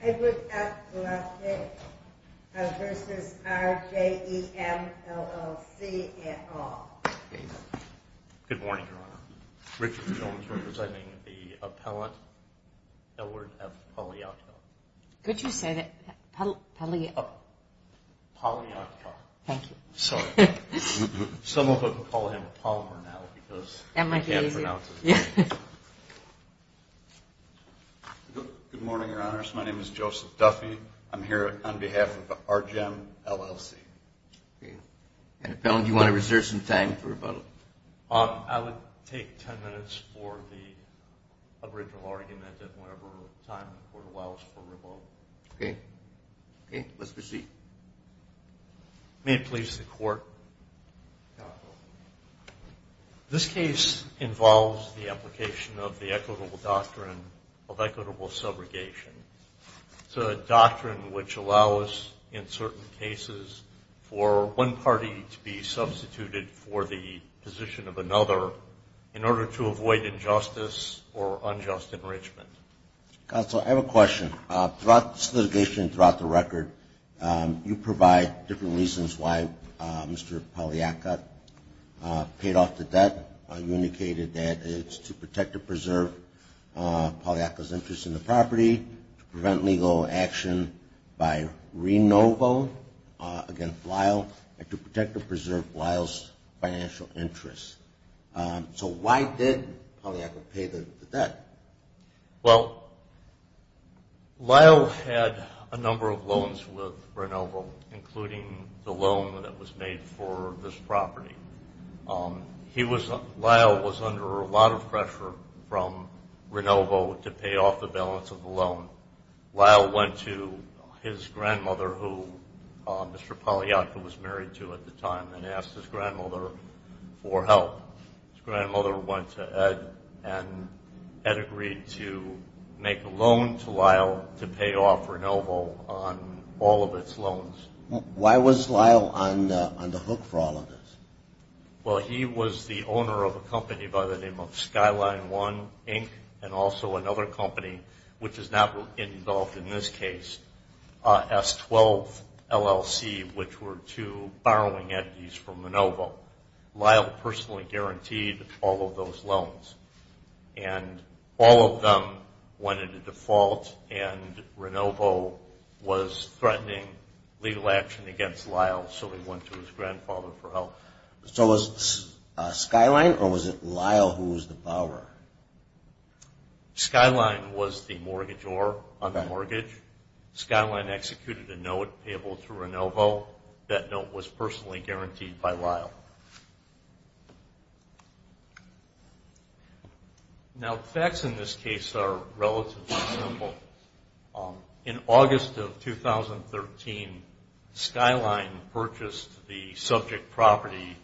Edward F. Luskett v. RJEM, LLC, et al. Good morning, Your Honors. My name is Joseph Duffy. I'm here on behalf of RJEM, LLC. Okay. And, Appellant, do you want to reserve some time for rebuttal? I would take 10 minutes for the aboriginal argument and whatever time for the wiles for rebuttal. Okay. Okay. Let's proceed. May it please the Court. Counsel, this case involves the application of the equitable doctrine of equitable subrogation. It's a doctrine which allows, in certain cases, for one party to be substituted for the position of another in order to avoid injustice or unjust enrichment. Counsel, I have a question. Throughout this litigation and throughout the record, you provide different reasons why Mr. Paliatka paid off the debt. You indicated that it's to protect and preserve Paliatka's interest in the property, to prevent legal action by Renovo against Lyle, and to protect and preserve Lyle's financial interests. So why did Paliatka pay the debt? Well, Lyle had a number of loans with Renovo, including the loan that was made for this property. Lyle was under a lot of pressure from Renovo to pay off the balance of the loan. Lyle went to his grandmother, who Mr. Paliatka was married to at the time, and asked his grandmother for help. His grandmother went to Ed, and Ed agreed to make a loan to Lyle to pay off Renovo on all of its loans. Why was Lyle on the hook for all of this? Well, he was the owner of a company by the name of Skyline One, Inc., and also another company, which is not involved in this case, S-12 LLC, which were two borrowing entities from Renovo. Lyle personally guaranteed all of those loans, and all of them went into default, and Renovo was threatening legal action against Lyle, so he went to his grandfather for help. So was it Skyline, or was it Lyle who was the borrower? Skyline was the mortgagor on the mortgage. Skyline executed a note payable to Renovo. That note was personally guaranteed by Lyle. Now, facts in this case are relatively simple. In August of 2013, Skyline purchased the subject property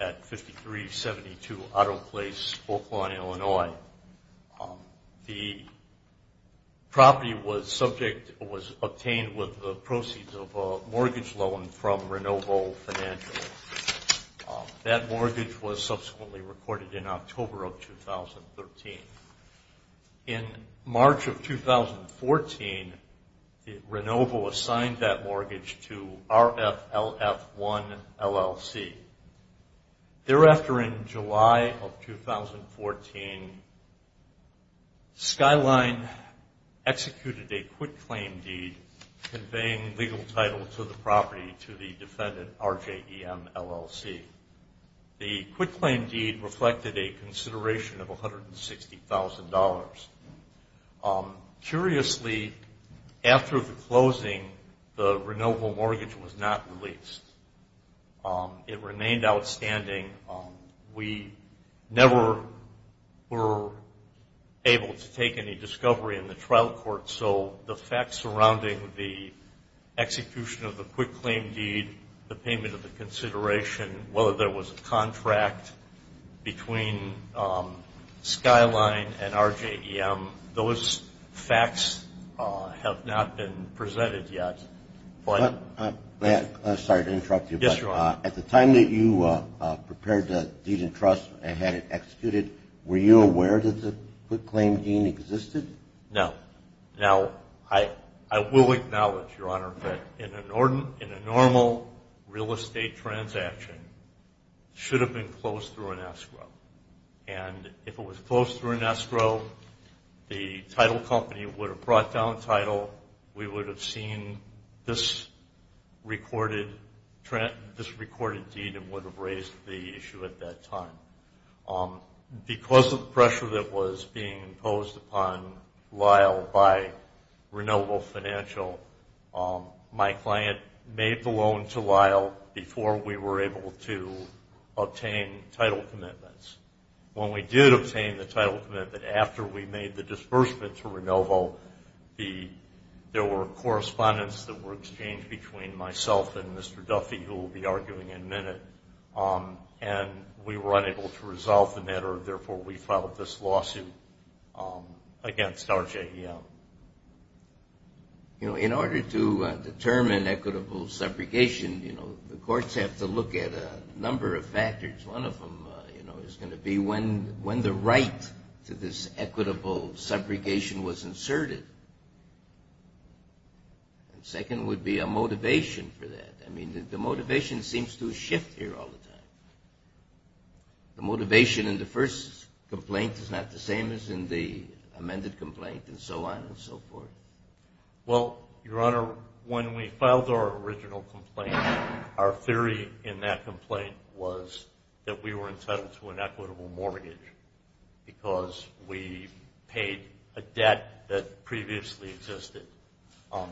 at 5372 Otto Place, Oakland, Illinois. The property was obtained with the proceeds of a mortgage loan from Renovo Financial. That mortgage was subsequently recorded in October of 2013. In March of 2014, Renovo assigned that mortgage to RFLF1, LLC. Thereafter, in July of 2014, Skyline executed a quitclaim deed conveying legal title to the property to the defendant, RJEM, LLC. The quitclaim deed reflected a consideration of $160,000. Curiously, after the closing, the Renovo mortgage was not released. It remained outstanding. We never were able to take any discovery in the trial court, so the facts surrounding the execution of the quitclaim deed, the payment of the consideration, whether there was a contract between Skyline and RJEM, those facts have not been presented yet. I'm sorry to interrupt you. Yes, Your Honor. At the time that you prepared the deed in trust and had it executed, were you aware that the quitclaim deed existed? No. Now, I will acknowledge, Your Honor, that in a normal real estate transaction, it should have been closed through an escrow. And if it was closed through an escrow, the title company would have brought down the title. We would have seen this recorded deed and would have raised the issue at that time. Because of the pressure that was being imposed upon Lyle by Renovo Financial, my client made the loan to Lyle before we were able to obtain title commitments. When we did obtain the title commitment after we made the disbursement to Renovo, there were correspondence that were exchanged between myself and Mr. Duffy, who will be arguing in a minute, and we were unable to resolve the matter. Therefore, we filed this lawsuit against RJEM. You know, in order to determine equitable separation, you know, the courts have to look at a number of factors. One of them, you know, is going to be when the right to this equitable segregation was inserted. And second would be a motivation for that. I mean, the motivation seems to shift here all the time. The motivation in the first complaint is not the same as in the amended complaint and so on and so forth. Well, Your Honor, when we filed our original complaint, our theory in that complaint was that we were entitled to an equitable mortgage because we paid a debt that previously existed.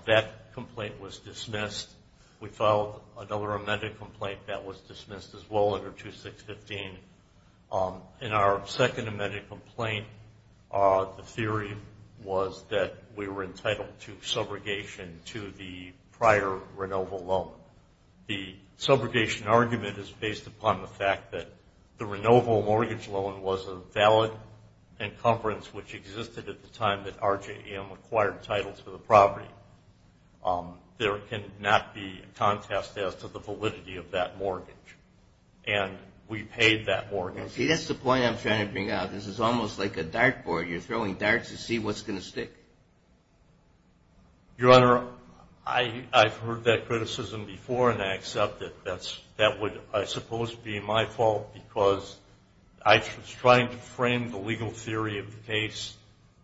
That complaint was dismissed. We filed another amended complaint that was dismissed as well under 2615. In our second amended complaint, the theory was that we were entitled to subrogation to the prior Renovo loan. The subrogation argument is based upon the fact that the Renovo mortgage loan was a valid encumbrance, which existed at the time that RJEM acquired titles for the property. There cannot be a contest as to the validity of that mortgage. And we paid that mortgage. See, that's the point I'm trying to bring out. This is almost like a dart board. You're throwing darts to see what's going to stick. Your Honor, I've heard that criticism before and I accept it. That would, I suppose, be my fault because I was trying to frame the legal theory of the case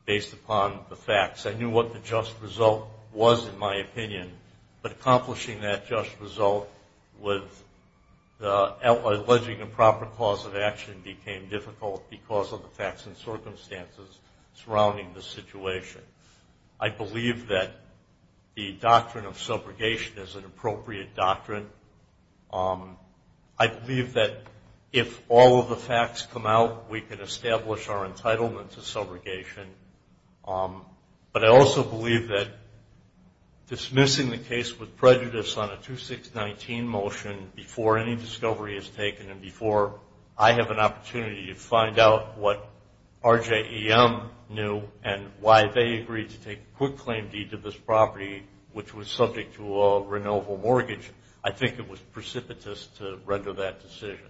based upon the facts. I knew what the just result was, in my opinion. But accomplishing that just result with the alleged improper cause of action became difficult because of the facts and circumstances surrounding the situation. I believe that the doctrine of subrogation is an appropriate doctrine. I believe that if all of the facts come out, we can establish our entitlement to subrogation. But I also believe that dismissing the case with prejudice on a 2619 motion before any discovery is taken and before I have an opportunity to find out what RJEM knew and why they agreed to take a quick claim deed to this property, which was subject to a Renovo mortgage, I think it was precipitous to render that decision.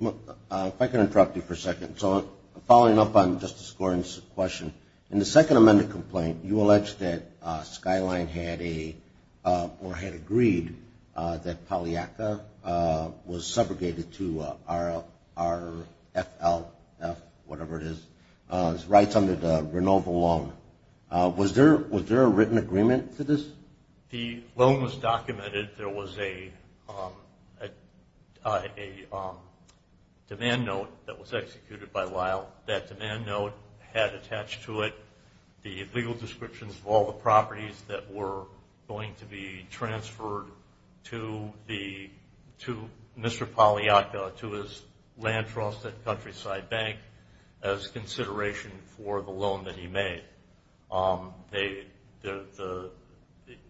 If I can interrupt you for a second. So following up on Justice Gordon's question, in the second amended complaint, you allege that Skyline had agreed that Pagliacca was segregated to RFLF, whatever it is, rights under the Renovo loan. Was there a written agreement to this? The loan was documented. There was a demand note that was executed by Lyle. That demand note had attached to it the legal descriptions of all the properties that were going to be transferred to Mr. Pagliacca to his land trust at Countryside Bank as consideration for the loan that he made.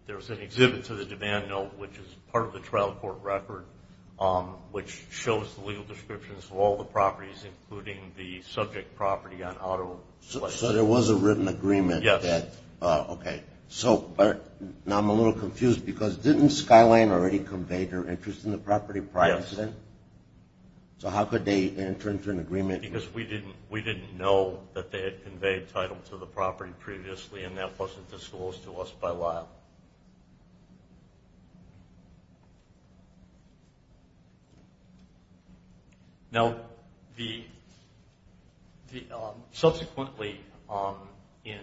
There was an exhibit to the demand note, which is part of the trial court record, which shows the legal descriptions of all the properties, including the subject property on auto. So there was a written agreement. Yes. Okay. So now I'm a little confused because didn't Skyline already convey their interest in the property prior to that? Yes. So how could they enter into an agreement? Because we didn't know that they had conveyed title to the property previously, and that wasn't disclosed to us by Lyle. Now, subsequently in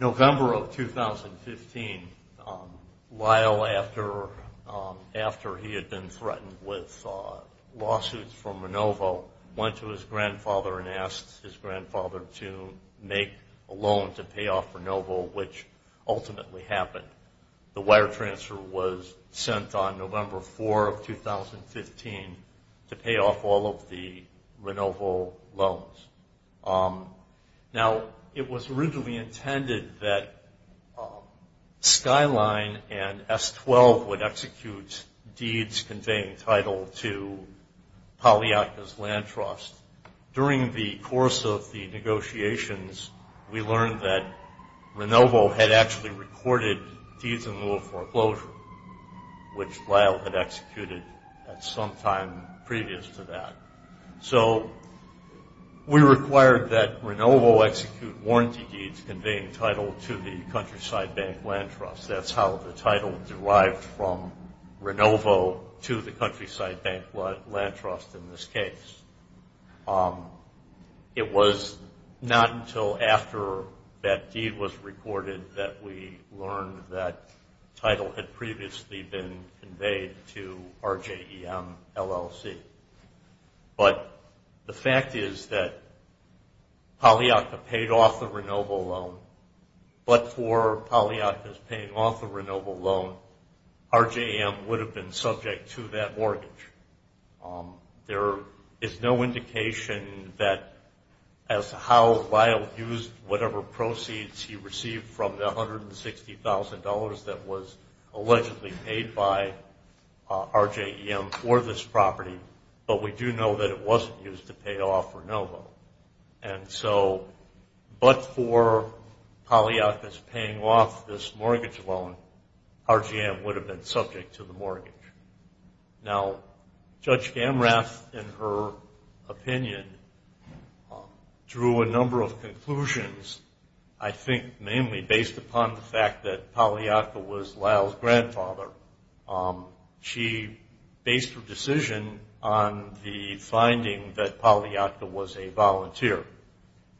November of 2015, Lyle, after he had been threatened with lawsuits from Renovo, went to his grandfather and asked his grandfather to make a loan to pay off Renovo, which ultimately happened. The wire transfer was sent on November 4 of 2015 to pay off all of the Renovo loans. Now, it was originally intended that Skyline and S-12 would execute deeds conveying title to Pagliacca's land trust. During the course of the negotiations, we learned that Renovo had actually recorded deeds in lieu of foreclosure, which Lyle had executed at some time previous to that. So we required that Renovo execute warranty deeds conveying title to the Countryside Bank Land Trust. That's how the title derived from Renovo to the Countryside Bank Land Trust in this case. It was not until after that deed was recorded that we learned that title had previously been conveyed to RJEM LLC. But the fact is that Pagliacca paid off the Renovo loan, but for Pagliacca's paying off the Renovo loan, RJEM would have been subject to that mortgage. There is no indication that as to how Lyle used whatever proceeds he received from the $160,000 that was allegedly paid by RJEM for this property, but we do know that it wasn't used to pay off Renovo. But for Pagliacca's paying off this mortgage loan, RJEM would have been subject to the mortgage. Now, Judge Gamrath, in her opinion, drew a number of conclusions, I think mainly based upon the fact that Pagliacca was Lyle's grandfather. She based her decision on the finding that Pagliacca was a volunteer,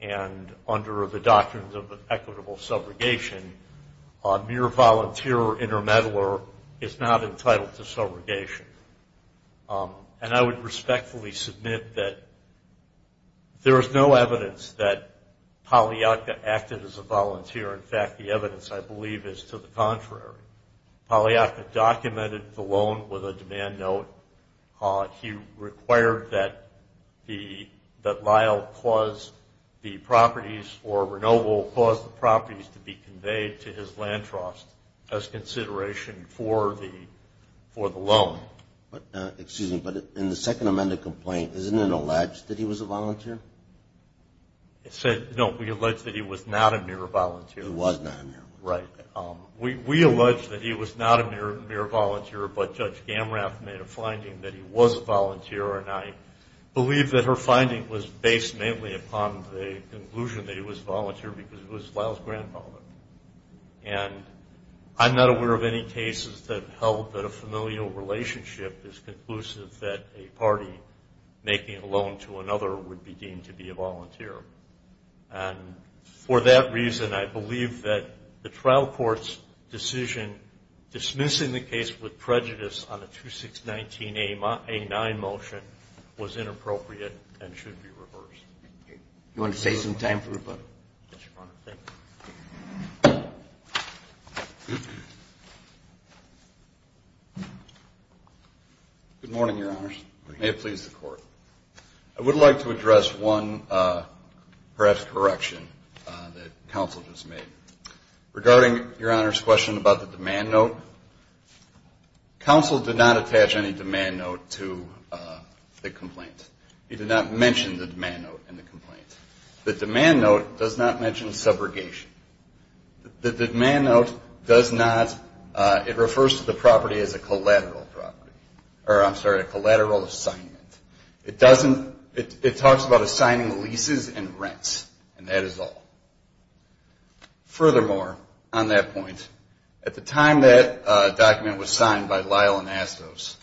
and under the doctrines of equitable subrogation, a mere volunteer or intermeddler is not entitled to subrogation. And I would respectfully submit that there is no evidence that Pagliacca acted as a volunteer. In fact, the evidence, I believe, is to the contrary. Pagliacca documented the loan with a demand note. He required that Lyle clause the properties, or Renovo clause the properties to be conveyed to his land trust as consideration for the loan. Excuse me, but in the second amended complaint, isn't it alleged that he was a volunteer? No, we allege that he was not a mere volunteer. He was not a mere volunteer. Right. We allege that he was not a mere volunteer, but Judge Gamrath made a finding that he was a volunteer, and I believe that her finding was based mainly upon the conclusion that he was a volunteer because it was Lyle's grandfather. And I'm not aware of any cases that held that a familial relationship is conclusive that a party making a loan to another would be deemed to be a volunteer. And for that reason, I believe that the trial court's decision dismissing the case with prejudice on the 2619A9 motion was inappropriate and should be reversed. Do you want to save some time for rebuttal? Yes, Your Honor. Thank you. Good morning, Your Honors. Good morning. May it please the Court. I would like to address one perhaps correction that counsel just made. Regarding Your Honor's question about the demand note, counsel did not attach any demand note to the complaint. He did not mention the demand note in the complaint. The demand note does not mention subrogation. The demand note does not. It refers to the property as a collateral property, or I'm sorry, a collateral assignment. It talks about assigning leases and rents, and that is all. Furthermore, on that point, at the time that document was signed by Lyle Anastos,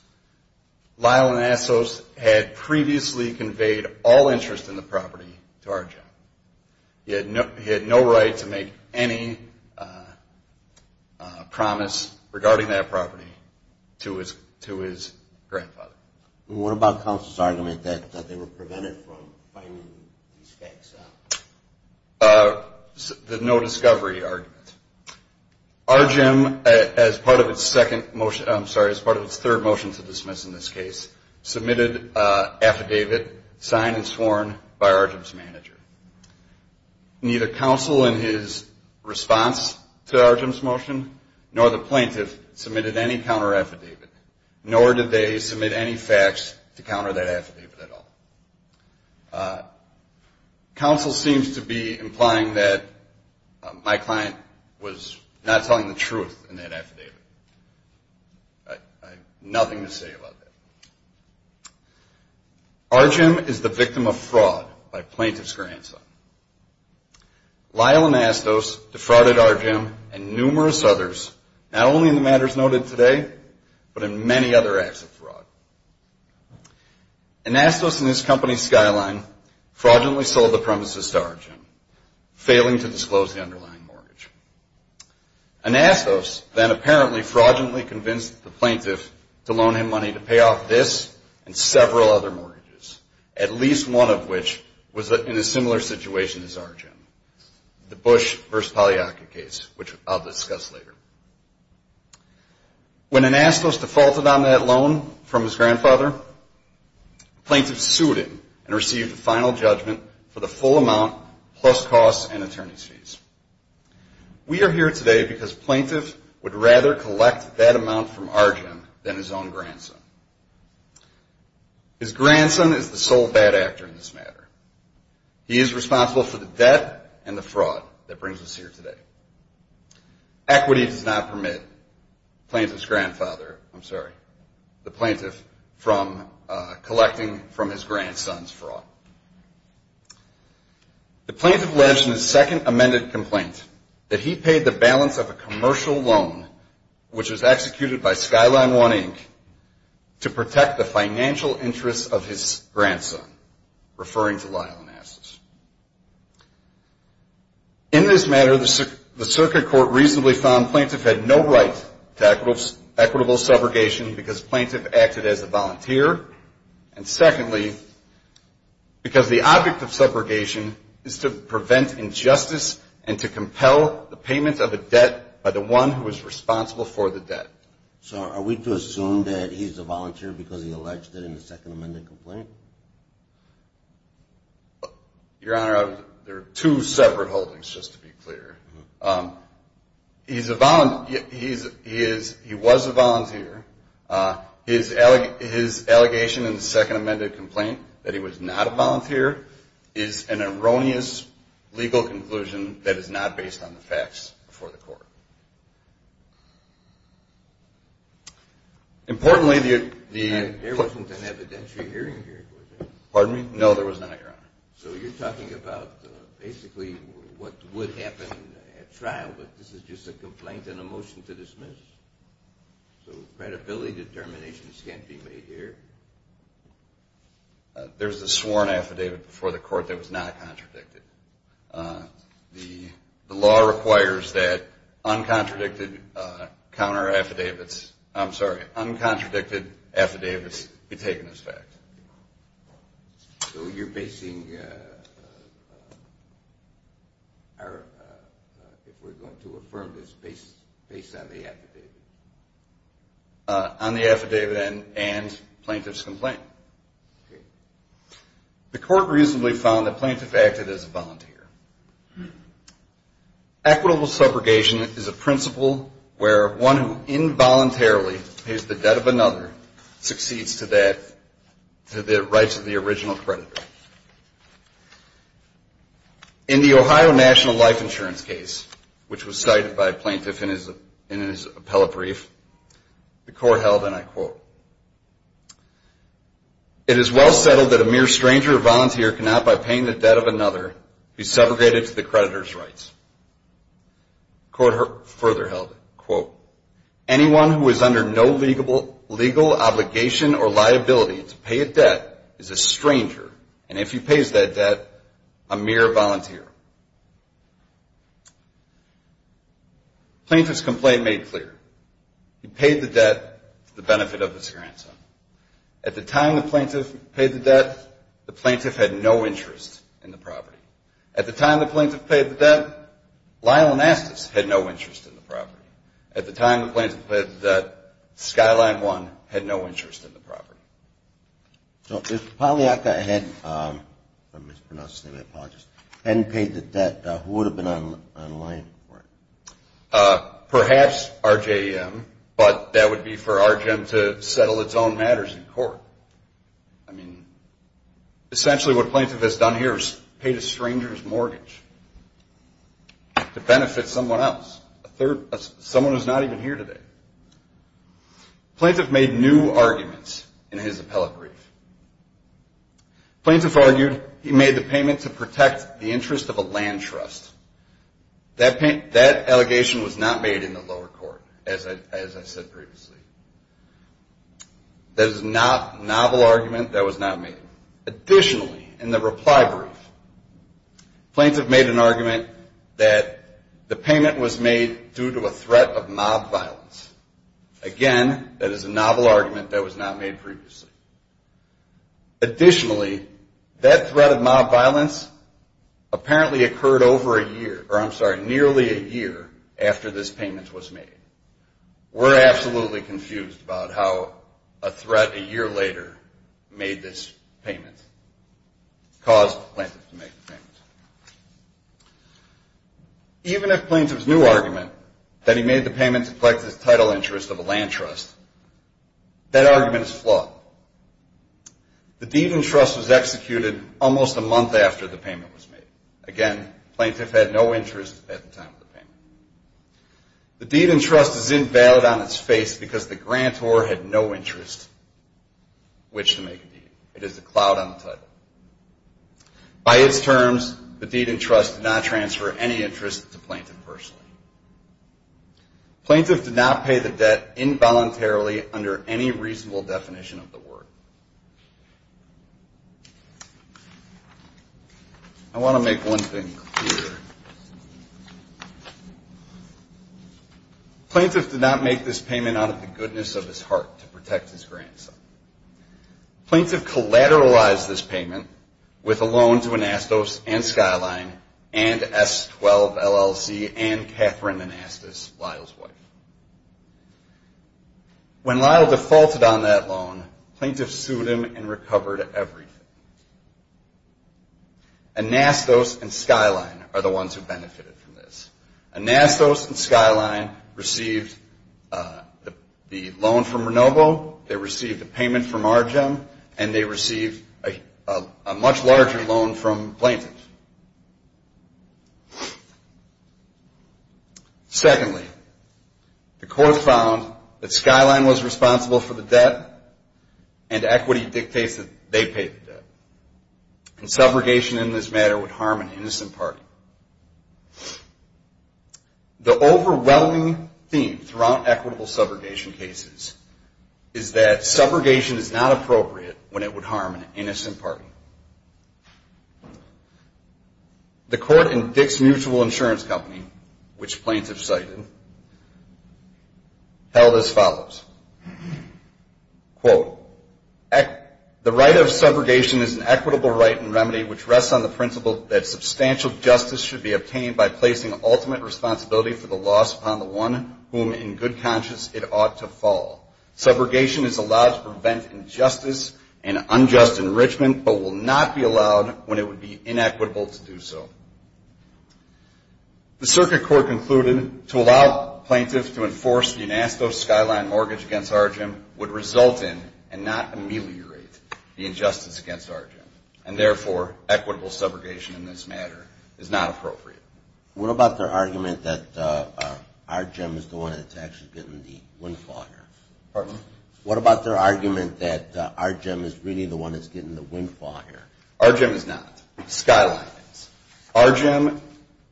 Lyle Anastos had previously conveyed all interest in the property to our job. He had no right to make any promise regarding that property to his grandfather. What about counsel's argument that they were prevented from finding these facts out? The no discovery argument. Arjim, as part of its third motion to dismiss in this case, submitted an affidavit signed and sworn by Arjim's manager. Neither counsel in his response to Arjim's motion nor the plaintiff submitted any counter affidavit, nor did they submit any facts to counter that affidavit at all. Counsel seems to be implying that my client was not telling the truth in that affidavit. I have nothing to say about that. Arjim is the victim of fraud by plaintiff's grandson. Lyle Anastos defrauded Arjim and numerous others, not only in the matters noted today, but in many other acts of fraud. Anastos and his company Skyline fraudulently sold the premises to Arjim, failing to disclose the underlying mortgage. Anastos then apparently fraudulently convinced the plaintiff to loan him money to pay off this and several other mortgages, at least one of which was in a similar situation as Arjim, the Bush v. Pagliacca case, which I'll discuss later. When Anastos defaulted on that loan from his grandfather, the plaintiff sued him and received a final judgment for the full amount plus costs and attorney's fees. We are here today because plaintiff would rather collect that amount from Arjim than his own grandson. His grandson is the sole bad actor in this matter. He is responsible for the debt and the fraud that brings us here today. Equity does not permit the plaintiff's grandfather, I'm sorry, the plaintiff, from collecting from his grandson's fraud. The plaintiff alleged in his second amended complaint that he paid the balance of a commercial loan, which was executed by Skyline 1, Inc., to protect the financial interests of his grandson, referring to Lyle Anastos. In this matter, the circuit court reasonably found plaintiff had no right to equitable subrogation because plaintiff acted as a volunteer, and secondly, because the object of subrogation is to prevent injustice and to compel the payment of a debt by the one who is responsible for the debt. So are we to assume that he's a volunteer because he alleged it in the second amended complaint? Your Honor, there are two separate holdings, just to be clear. He was a volunteer. His allegation in the second amended complaint that he was not a volunteer is an erroneous legal conclusion that is not based on the facts before the court. Importantly, the... There wasn't an evidentiary hearing here, was there? Pardon me? No, there was not, Your Honor. So you're talking about basically what would happen at trial, but this is just a complaint and a motion to dismiss? So credibility determinations can't be made here? There's a sworn affidavit before the court that was not contradicted. The law requires that uncontradicted counter-affidavits, I'm sorry, uncontradicted affidavits be taken as facts. So you're basing our... If we're going to affirm this based on the affidavit? On the affidavit and plaintiff's complaint. The court reasonably found the plaintiff acted as a volunteer. Equitable subrogation is a principle where one who involuntarily pays the debt of another succeeds to the rights of the original creditor. In the Ohio National Life Insurance case, which was cited by a plaintiff in his appellate brief, the court held, and I quote, it is well settled that a mere stranger or volunteer cannot, by paying the debt of another, be subrogated to the creditor's rights. The court further held, quote, And if he pays that debt, a mere volunteer. Plaintiff's complaint made clear. He paid the debt to the benefit of his grandson. At the time the plaintiff paid the debt, the plaintiff had no interest in the property. At the time the plaintiff paid the debt, Lyle Anastas had no interest in the property. At the time the plaintiff paid the debt, Skyline One had no interest in the property. So if Polyaka hadn't paid the debt, who would have been on line for it? Perhaps RJM, but that would be for RJM to settle its own matters in court. I mean, essentially what a plaintiff has done here is paid a stranger's mortgage to benefit someone else. Someone who's not even here today. Plaintiff made new arguments in his appellate brief. Plaintiff argued he made the payment to protect the interest of a land trust. That allegation was not made in the lower court, as I said previously. That is a novel argument that was not made. Additionally, in the reply brief, Plaintiff made an argument that the payment was made due to a threat of mob violence. Again, that is a novel argument that was not made previously. Additionally, that threat of mob violence apparently occurred over a year, or I'm sorry, nearly a year after this payment was made. We're absolutely confused about how a threat a year later made this payment, caused the plaintiff to make the payment. Even if the plaintiff's new argument, that he made the payment to protect the title interest of a land trust, that argument is flawed. The deed in trust was executed almost a month after the payment was made. Again, the plaintiff had no interest at the time of the payment. The deed in trust is invalid on its face because the grantor had no interest. Which to make a deed. It is a cloud on the title. By its terms, the deed in trust did not transfer any interest to the plaintiff personally. Plaintiff did not pay the debt involuntarily under any reasonable definition of the word. I want to make one thing clear. Plaintiff did not make this payment out of the goodness of his heart to protect his grandson. Plaintiff collateralized this payment with a loan to Anastos and Skyline and S12 LLC and Catherine Anastos, Lyle's wife. When Lyle defaulted on that loan, plaintiff sued him and recovered everything. Anastos and Skyline are the ones who benefited from this. Anastos and Skyline received the loan from Renovo. They received a payment from Argem, and they received a much larger loan from plaintiff. Secondly, the court found that Skyline was responsible for the debt and equity dictates that they pay the debt. And subrogation in this matter would harm an innocent party. The overwhelming theme throughout equitable subrogation cases is that subrogation is not appropriate when it would harm an innocent party. The court in Dick's Mutual Insurance Company, which plaintiff cited, held as follows. Quote, the right of subrogation is an equitable right and remedy, which rests on the principle that substantial justice should be obtained by placing ultimate responsibility for the loss upon the one whom in good conscience it ought to fall. Subrogation is allowed to prevent injustice and unjust enrichment, but will not be allowed when it would be inequitable to do so. The circuit court concluded to allow plaintiffs to enforce the Anastos-Skyline mortgage against Argem would result in and not ameliorate the injustice against Argem, and therefore equitable subrogation in this matter is not appropriate. What about their argument that Argem is the one that's actually getting the windfall here? Pardon? Argem,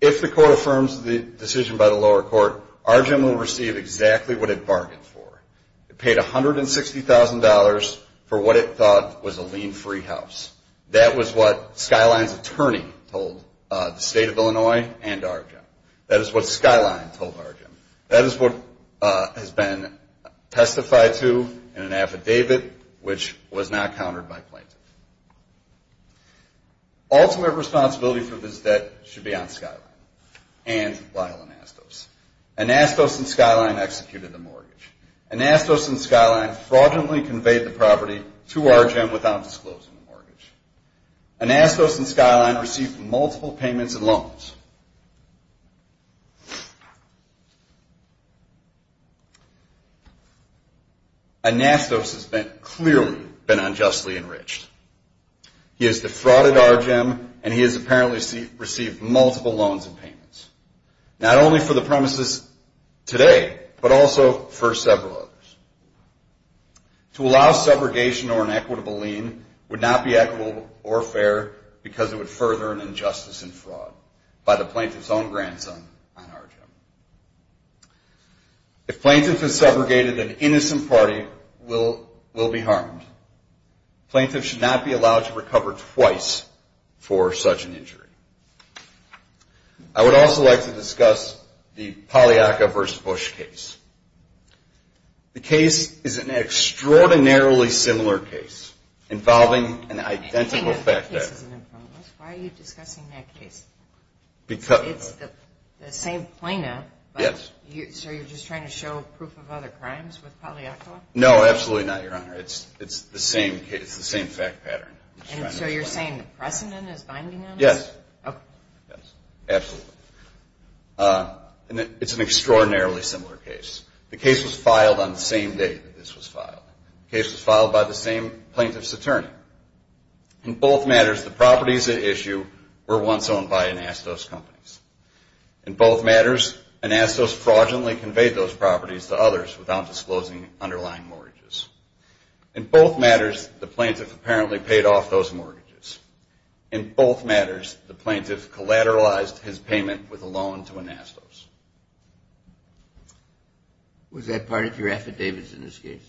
if the court affirms the decision by the lower court, Argem will receive exactly what it bargained for. It paid $160,000 for what it thought was a lien-free house. That was what Skyline's attorney told the State of Illinois and Argem. That is what Skyline told Argem. That is what has been testified to in an affidavit which was not countered by plaintiffs. Ultimate responsibility for this debt should be on Skyline and Lyle Anastos. Anastos and Skyline executed the mortgage. Anastos and Skyline fraudulently conveyed the property to Argem without disclosing the mortgage. Anastos and Skyline received multiple payments and loans. Anastos has clearly been unjustly enriched. He has defrauded Argem, and he has apparently received multiple loans and payments, not only for the premises today, but also for several others. To allow subrogation or an equitable lien would not be equitable or fair because it would further an injustice and fraud by the plaintiff's own grandson on Argem. If plaintiff is subrogated, an innocent party will be harmed. Plaintiffs should not be allowed to recover twice for such an injury. I would also like to discuss the Pagliacca v. Bush case. The case is an extraordinarily similar case involving an identical fact-check. The case was filed on the same day that this was filed. The case was filed by the same plaintiff's attorney. In both matters, the properties at issue were once owned by Anastos companies. In both matters, Anastos fraudulently conveyed those properties to others without disclosing underlying mortgages. In both matters, the plaintiff apparently paid off those mortgages. In both matters, the plaintiff collateralized his payment with a loan to Anastos. Was that part of your affidavits in this case?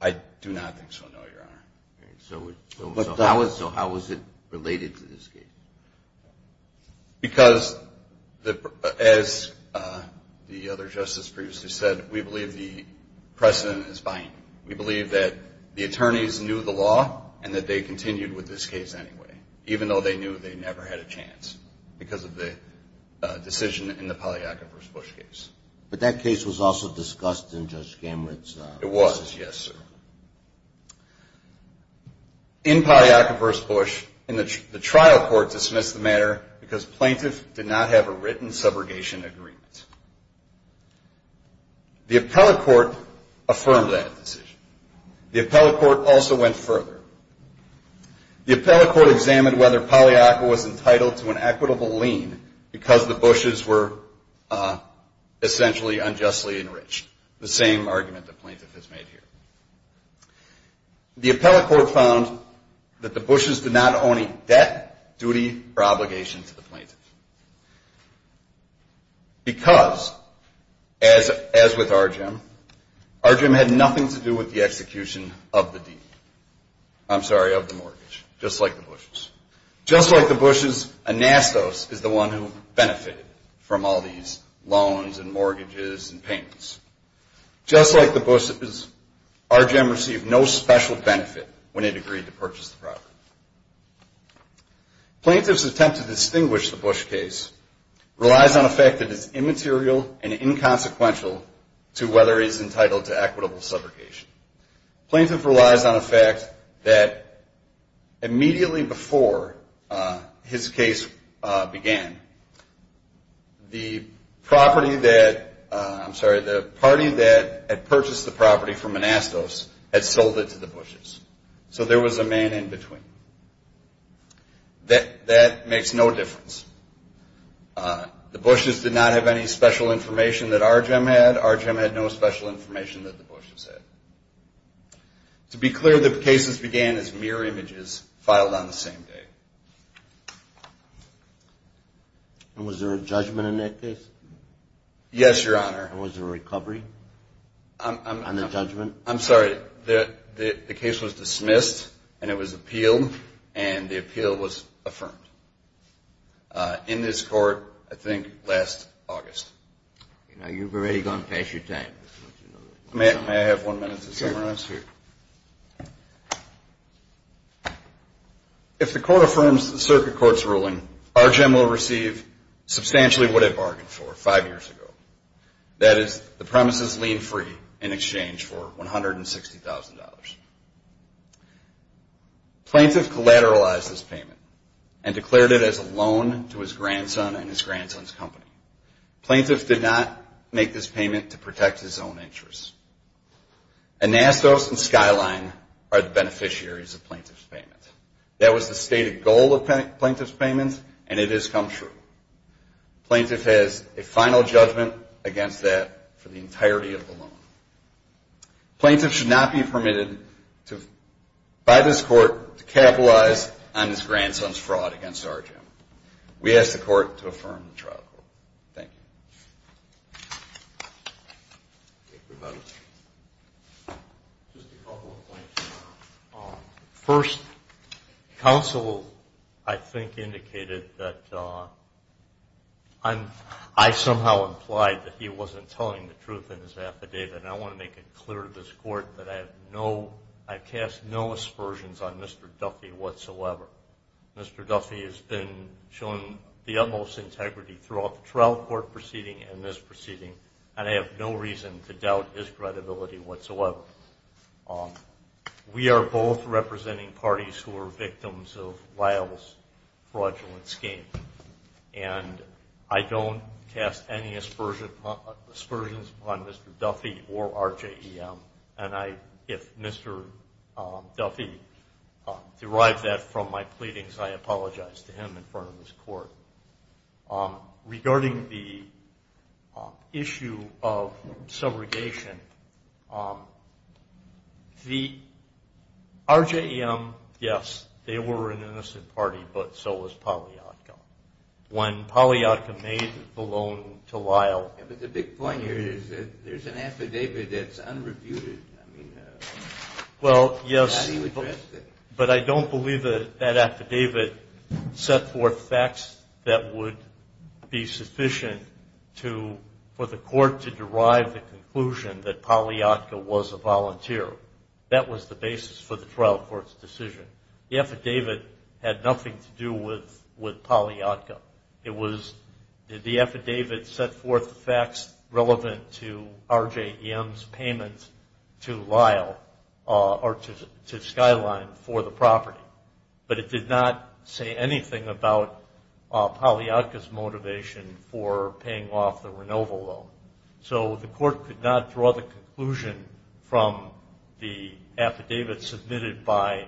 I do not think so, no, Your Honor. So how was it related to this case? Because, as the other Justice previously said, we believe the precedent is binding. We believe that the attorneys knew the law and that they continued with this case anyway, even though they knew they never had a chance because of the decision in the Pagliacca v. Bush case. But that case was also discussed in Judge Gamert's... It was, yes, sir. In Pagliacca v. Bush, the trial court dismissed the matter because plaintiff did not have a written subrogation agreement. The appellate court affirmed that decision. The appellate court also went further. The appellate court examined whether Pagliacca was entitled to an equitable lien because the Bushes were essentially unjustly enriched. The same argument the plaintiff has made here. The appellate court found that the Bushes did not own a debt, duty, or obligation to the plaintiff. Because, as with Argyem, Argyem had nothing to do with the execution of the deed. I'm sorry, of the mortgage, just like the Bushes. Just like the Bushes, Anastos is the one who benefited from all these loans and mortgages and payments. Just like the Bushes, Argyem received no special benefit when it agreed to purchase the property. Plaintiff's attempt to distinguish the Bush case relies on a fact that it's immaterial and inconsequential to whether he's entitled to equitable subrogation. Plaintiff relies on a fact that immediately before his case began, the property that, I'm sorry, the party that had purchased the property from Anastos had sold it to the Bushes. So there was a man in between. That makes no difference. The Bushes did not have any special information that Argyem had. Argyem had no special information that the Bushes had. To be clear, the cases began as mirror images filed on the same day. And was there a judgment in that case? Yes, Your Honor. And was there a recovery on the judgment? I'm sorry, the case was dismissed and it was appealed and the appeal was affirmed. In this court, I think last August. You've already gone past your time. May I have one minute to summarize? If the court affirms the circuit court's ruling, Argyem will receive substantially what it bargained for five years ago. That is the premises lien free in exchange for $160,000. Plaintiff collateralized this payment and declared it as a loan to his grandson and his grandson's company. Plaintiff did not make this payment to protect his own interests. Anastos and Skyline are the beneficiaries of plaintiff's payment. That was the stated goal of plaintiff's payment and it has come true. Plaintiff has a final judgment against that for the entirety of the loan. Plaintiff should not be permitted by this court to capitalize on his grandson's fraud against Argyem. We ask the court to affirm the trial court. Thank you. First, counsel, I think, indicated that I somehow implied that he wasn't telling the truth in his affidavit. I want to make it clear to this court that I cast no aspersions on Mr. Duffy whatsoever. Mr. Duffy has been shown the utmost integrity throughout the trial court proceeding and this proceeding, and I have no reason to doubt his credibility whatsoever. We are both representing parties who are victims of Lyle's fraudulent scheme, and I don't cast any aspersions upon Mr. Duffy or Argyem, and if Mr. Duffy derived that from my pleadings, I apologize to him in front of this court. Regarding the issue of subrogation, Argyem, yes, they were an innocent party, but so was Pollyatka. When Pollyatka made the loan to Lyle... But the big point here is that there's an affidavit that's unrebutted. Well, yes, but I don't believe that affidavit set forth facts that would be sufficient for the court to derive the conclusion that Pollyatka was a volunteer. That was the basis for the trial court's decision. The affidavit had nothing to do with Pollyatka. The affidavit set forth facts relevant to Argyem's payments to Lyle or to Skyline for the property, but it did not say anything about Pollyatka's motivation for paying off the affidavit submitted by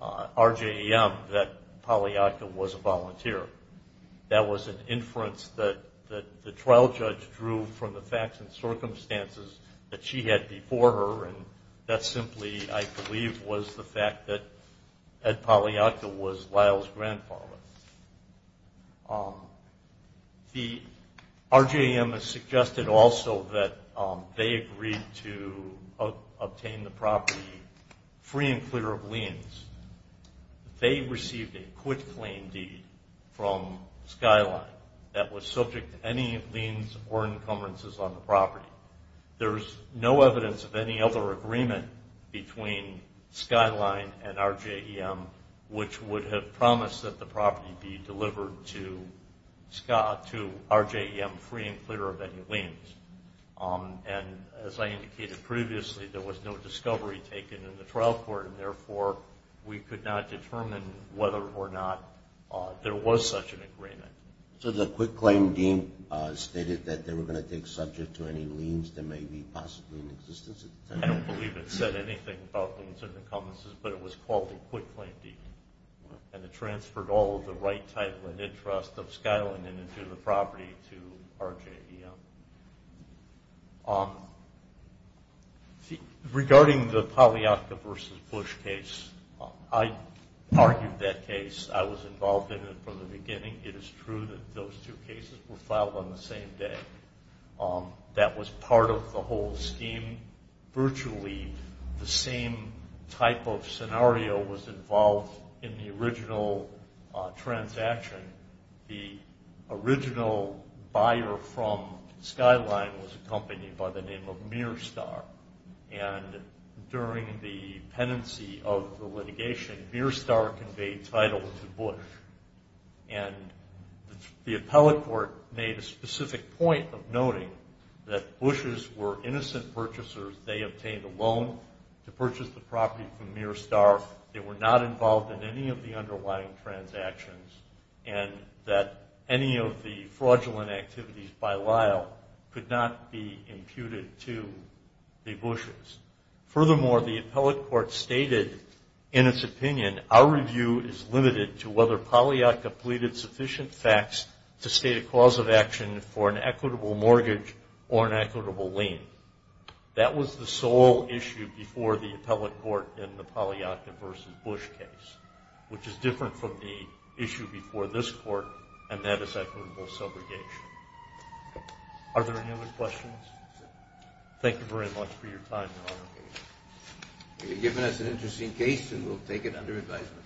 Argyem that Pollyatka was a volunteer. That was an inference that the trial judge drew from the facts and circumstances that she had before her, and that simply, I believe, was the fact that Ed Pollyatka was Lyle's grandfather. Argyem has received a quitclaim deed from Skyline that was subject to any liens or encumbrances on the property. There's no evidence of any other agreement between Skyline and Argyem which would have promised that the property be delivered to Argyem free and clear of any liens. As I indicated previously, there was no discovery taken in the trial court, and therefore we could not determine whether or not there was such an agreement. So the quitclaim deed stated that they were going to take subject to any liens that may be possibly in existence? I don't believe it said anything about liens or encumbrances, but it was called a quitclaim deed, and it transferred all of the right title and interest of Skyline and into the property to Argyem. Regarding the Pollyatka v. Bush case, I argued that case. I was involved in it from the beginning. It is true that those two cases were filed on the same day. That was part of the whole scheme. Virtually the same type of scenario was involved in the original transaction. The original buyer from Skyline was a company by the name of Mearstar, and during the penancy of the litigation, Mearstar conveyed title to Bush, and the appellate court made a specific point of noting that Bushes were innocent purchasers. They obtained a loan to purchase the property from Mearstar. They were not involved in any of the underlying transactions, and that any of the fraudulent activities by Lyle could not be imputed to the Bushes. Furthermore, the appellate court stated in its opinion, our review is limited to whether Pollyatka completed sufficient facts to state a cause of action for an equitable mortgage or an equitable lien. That was the sole issue before the appellate court in the Pollyatka v. Bush case, which is different from the issue before this court, and that is equitable subrogation. Are there any other questions? Thank you very much for your time, Your Honor. You've given us an interesting case, and we'll take it under advisement.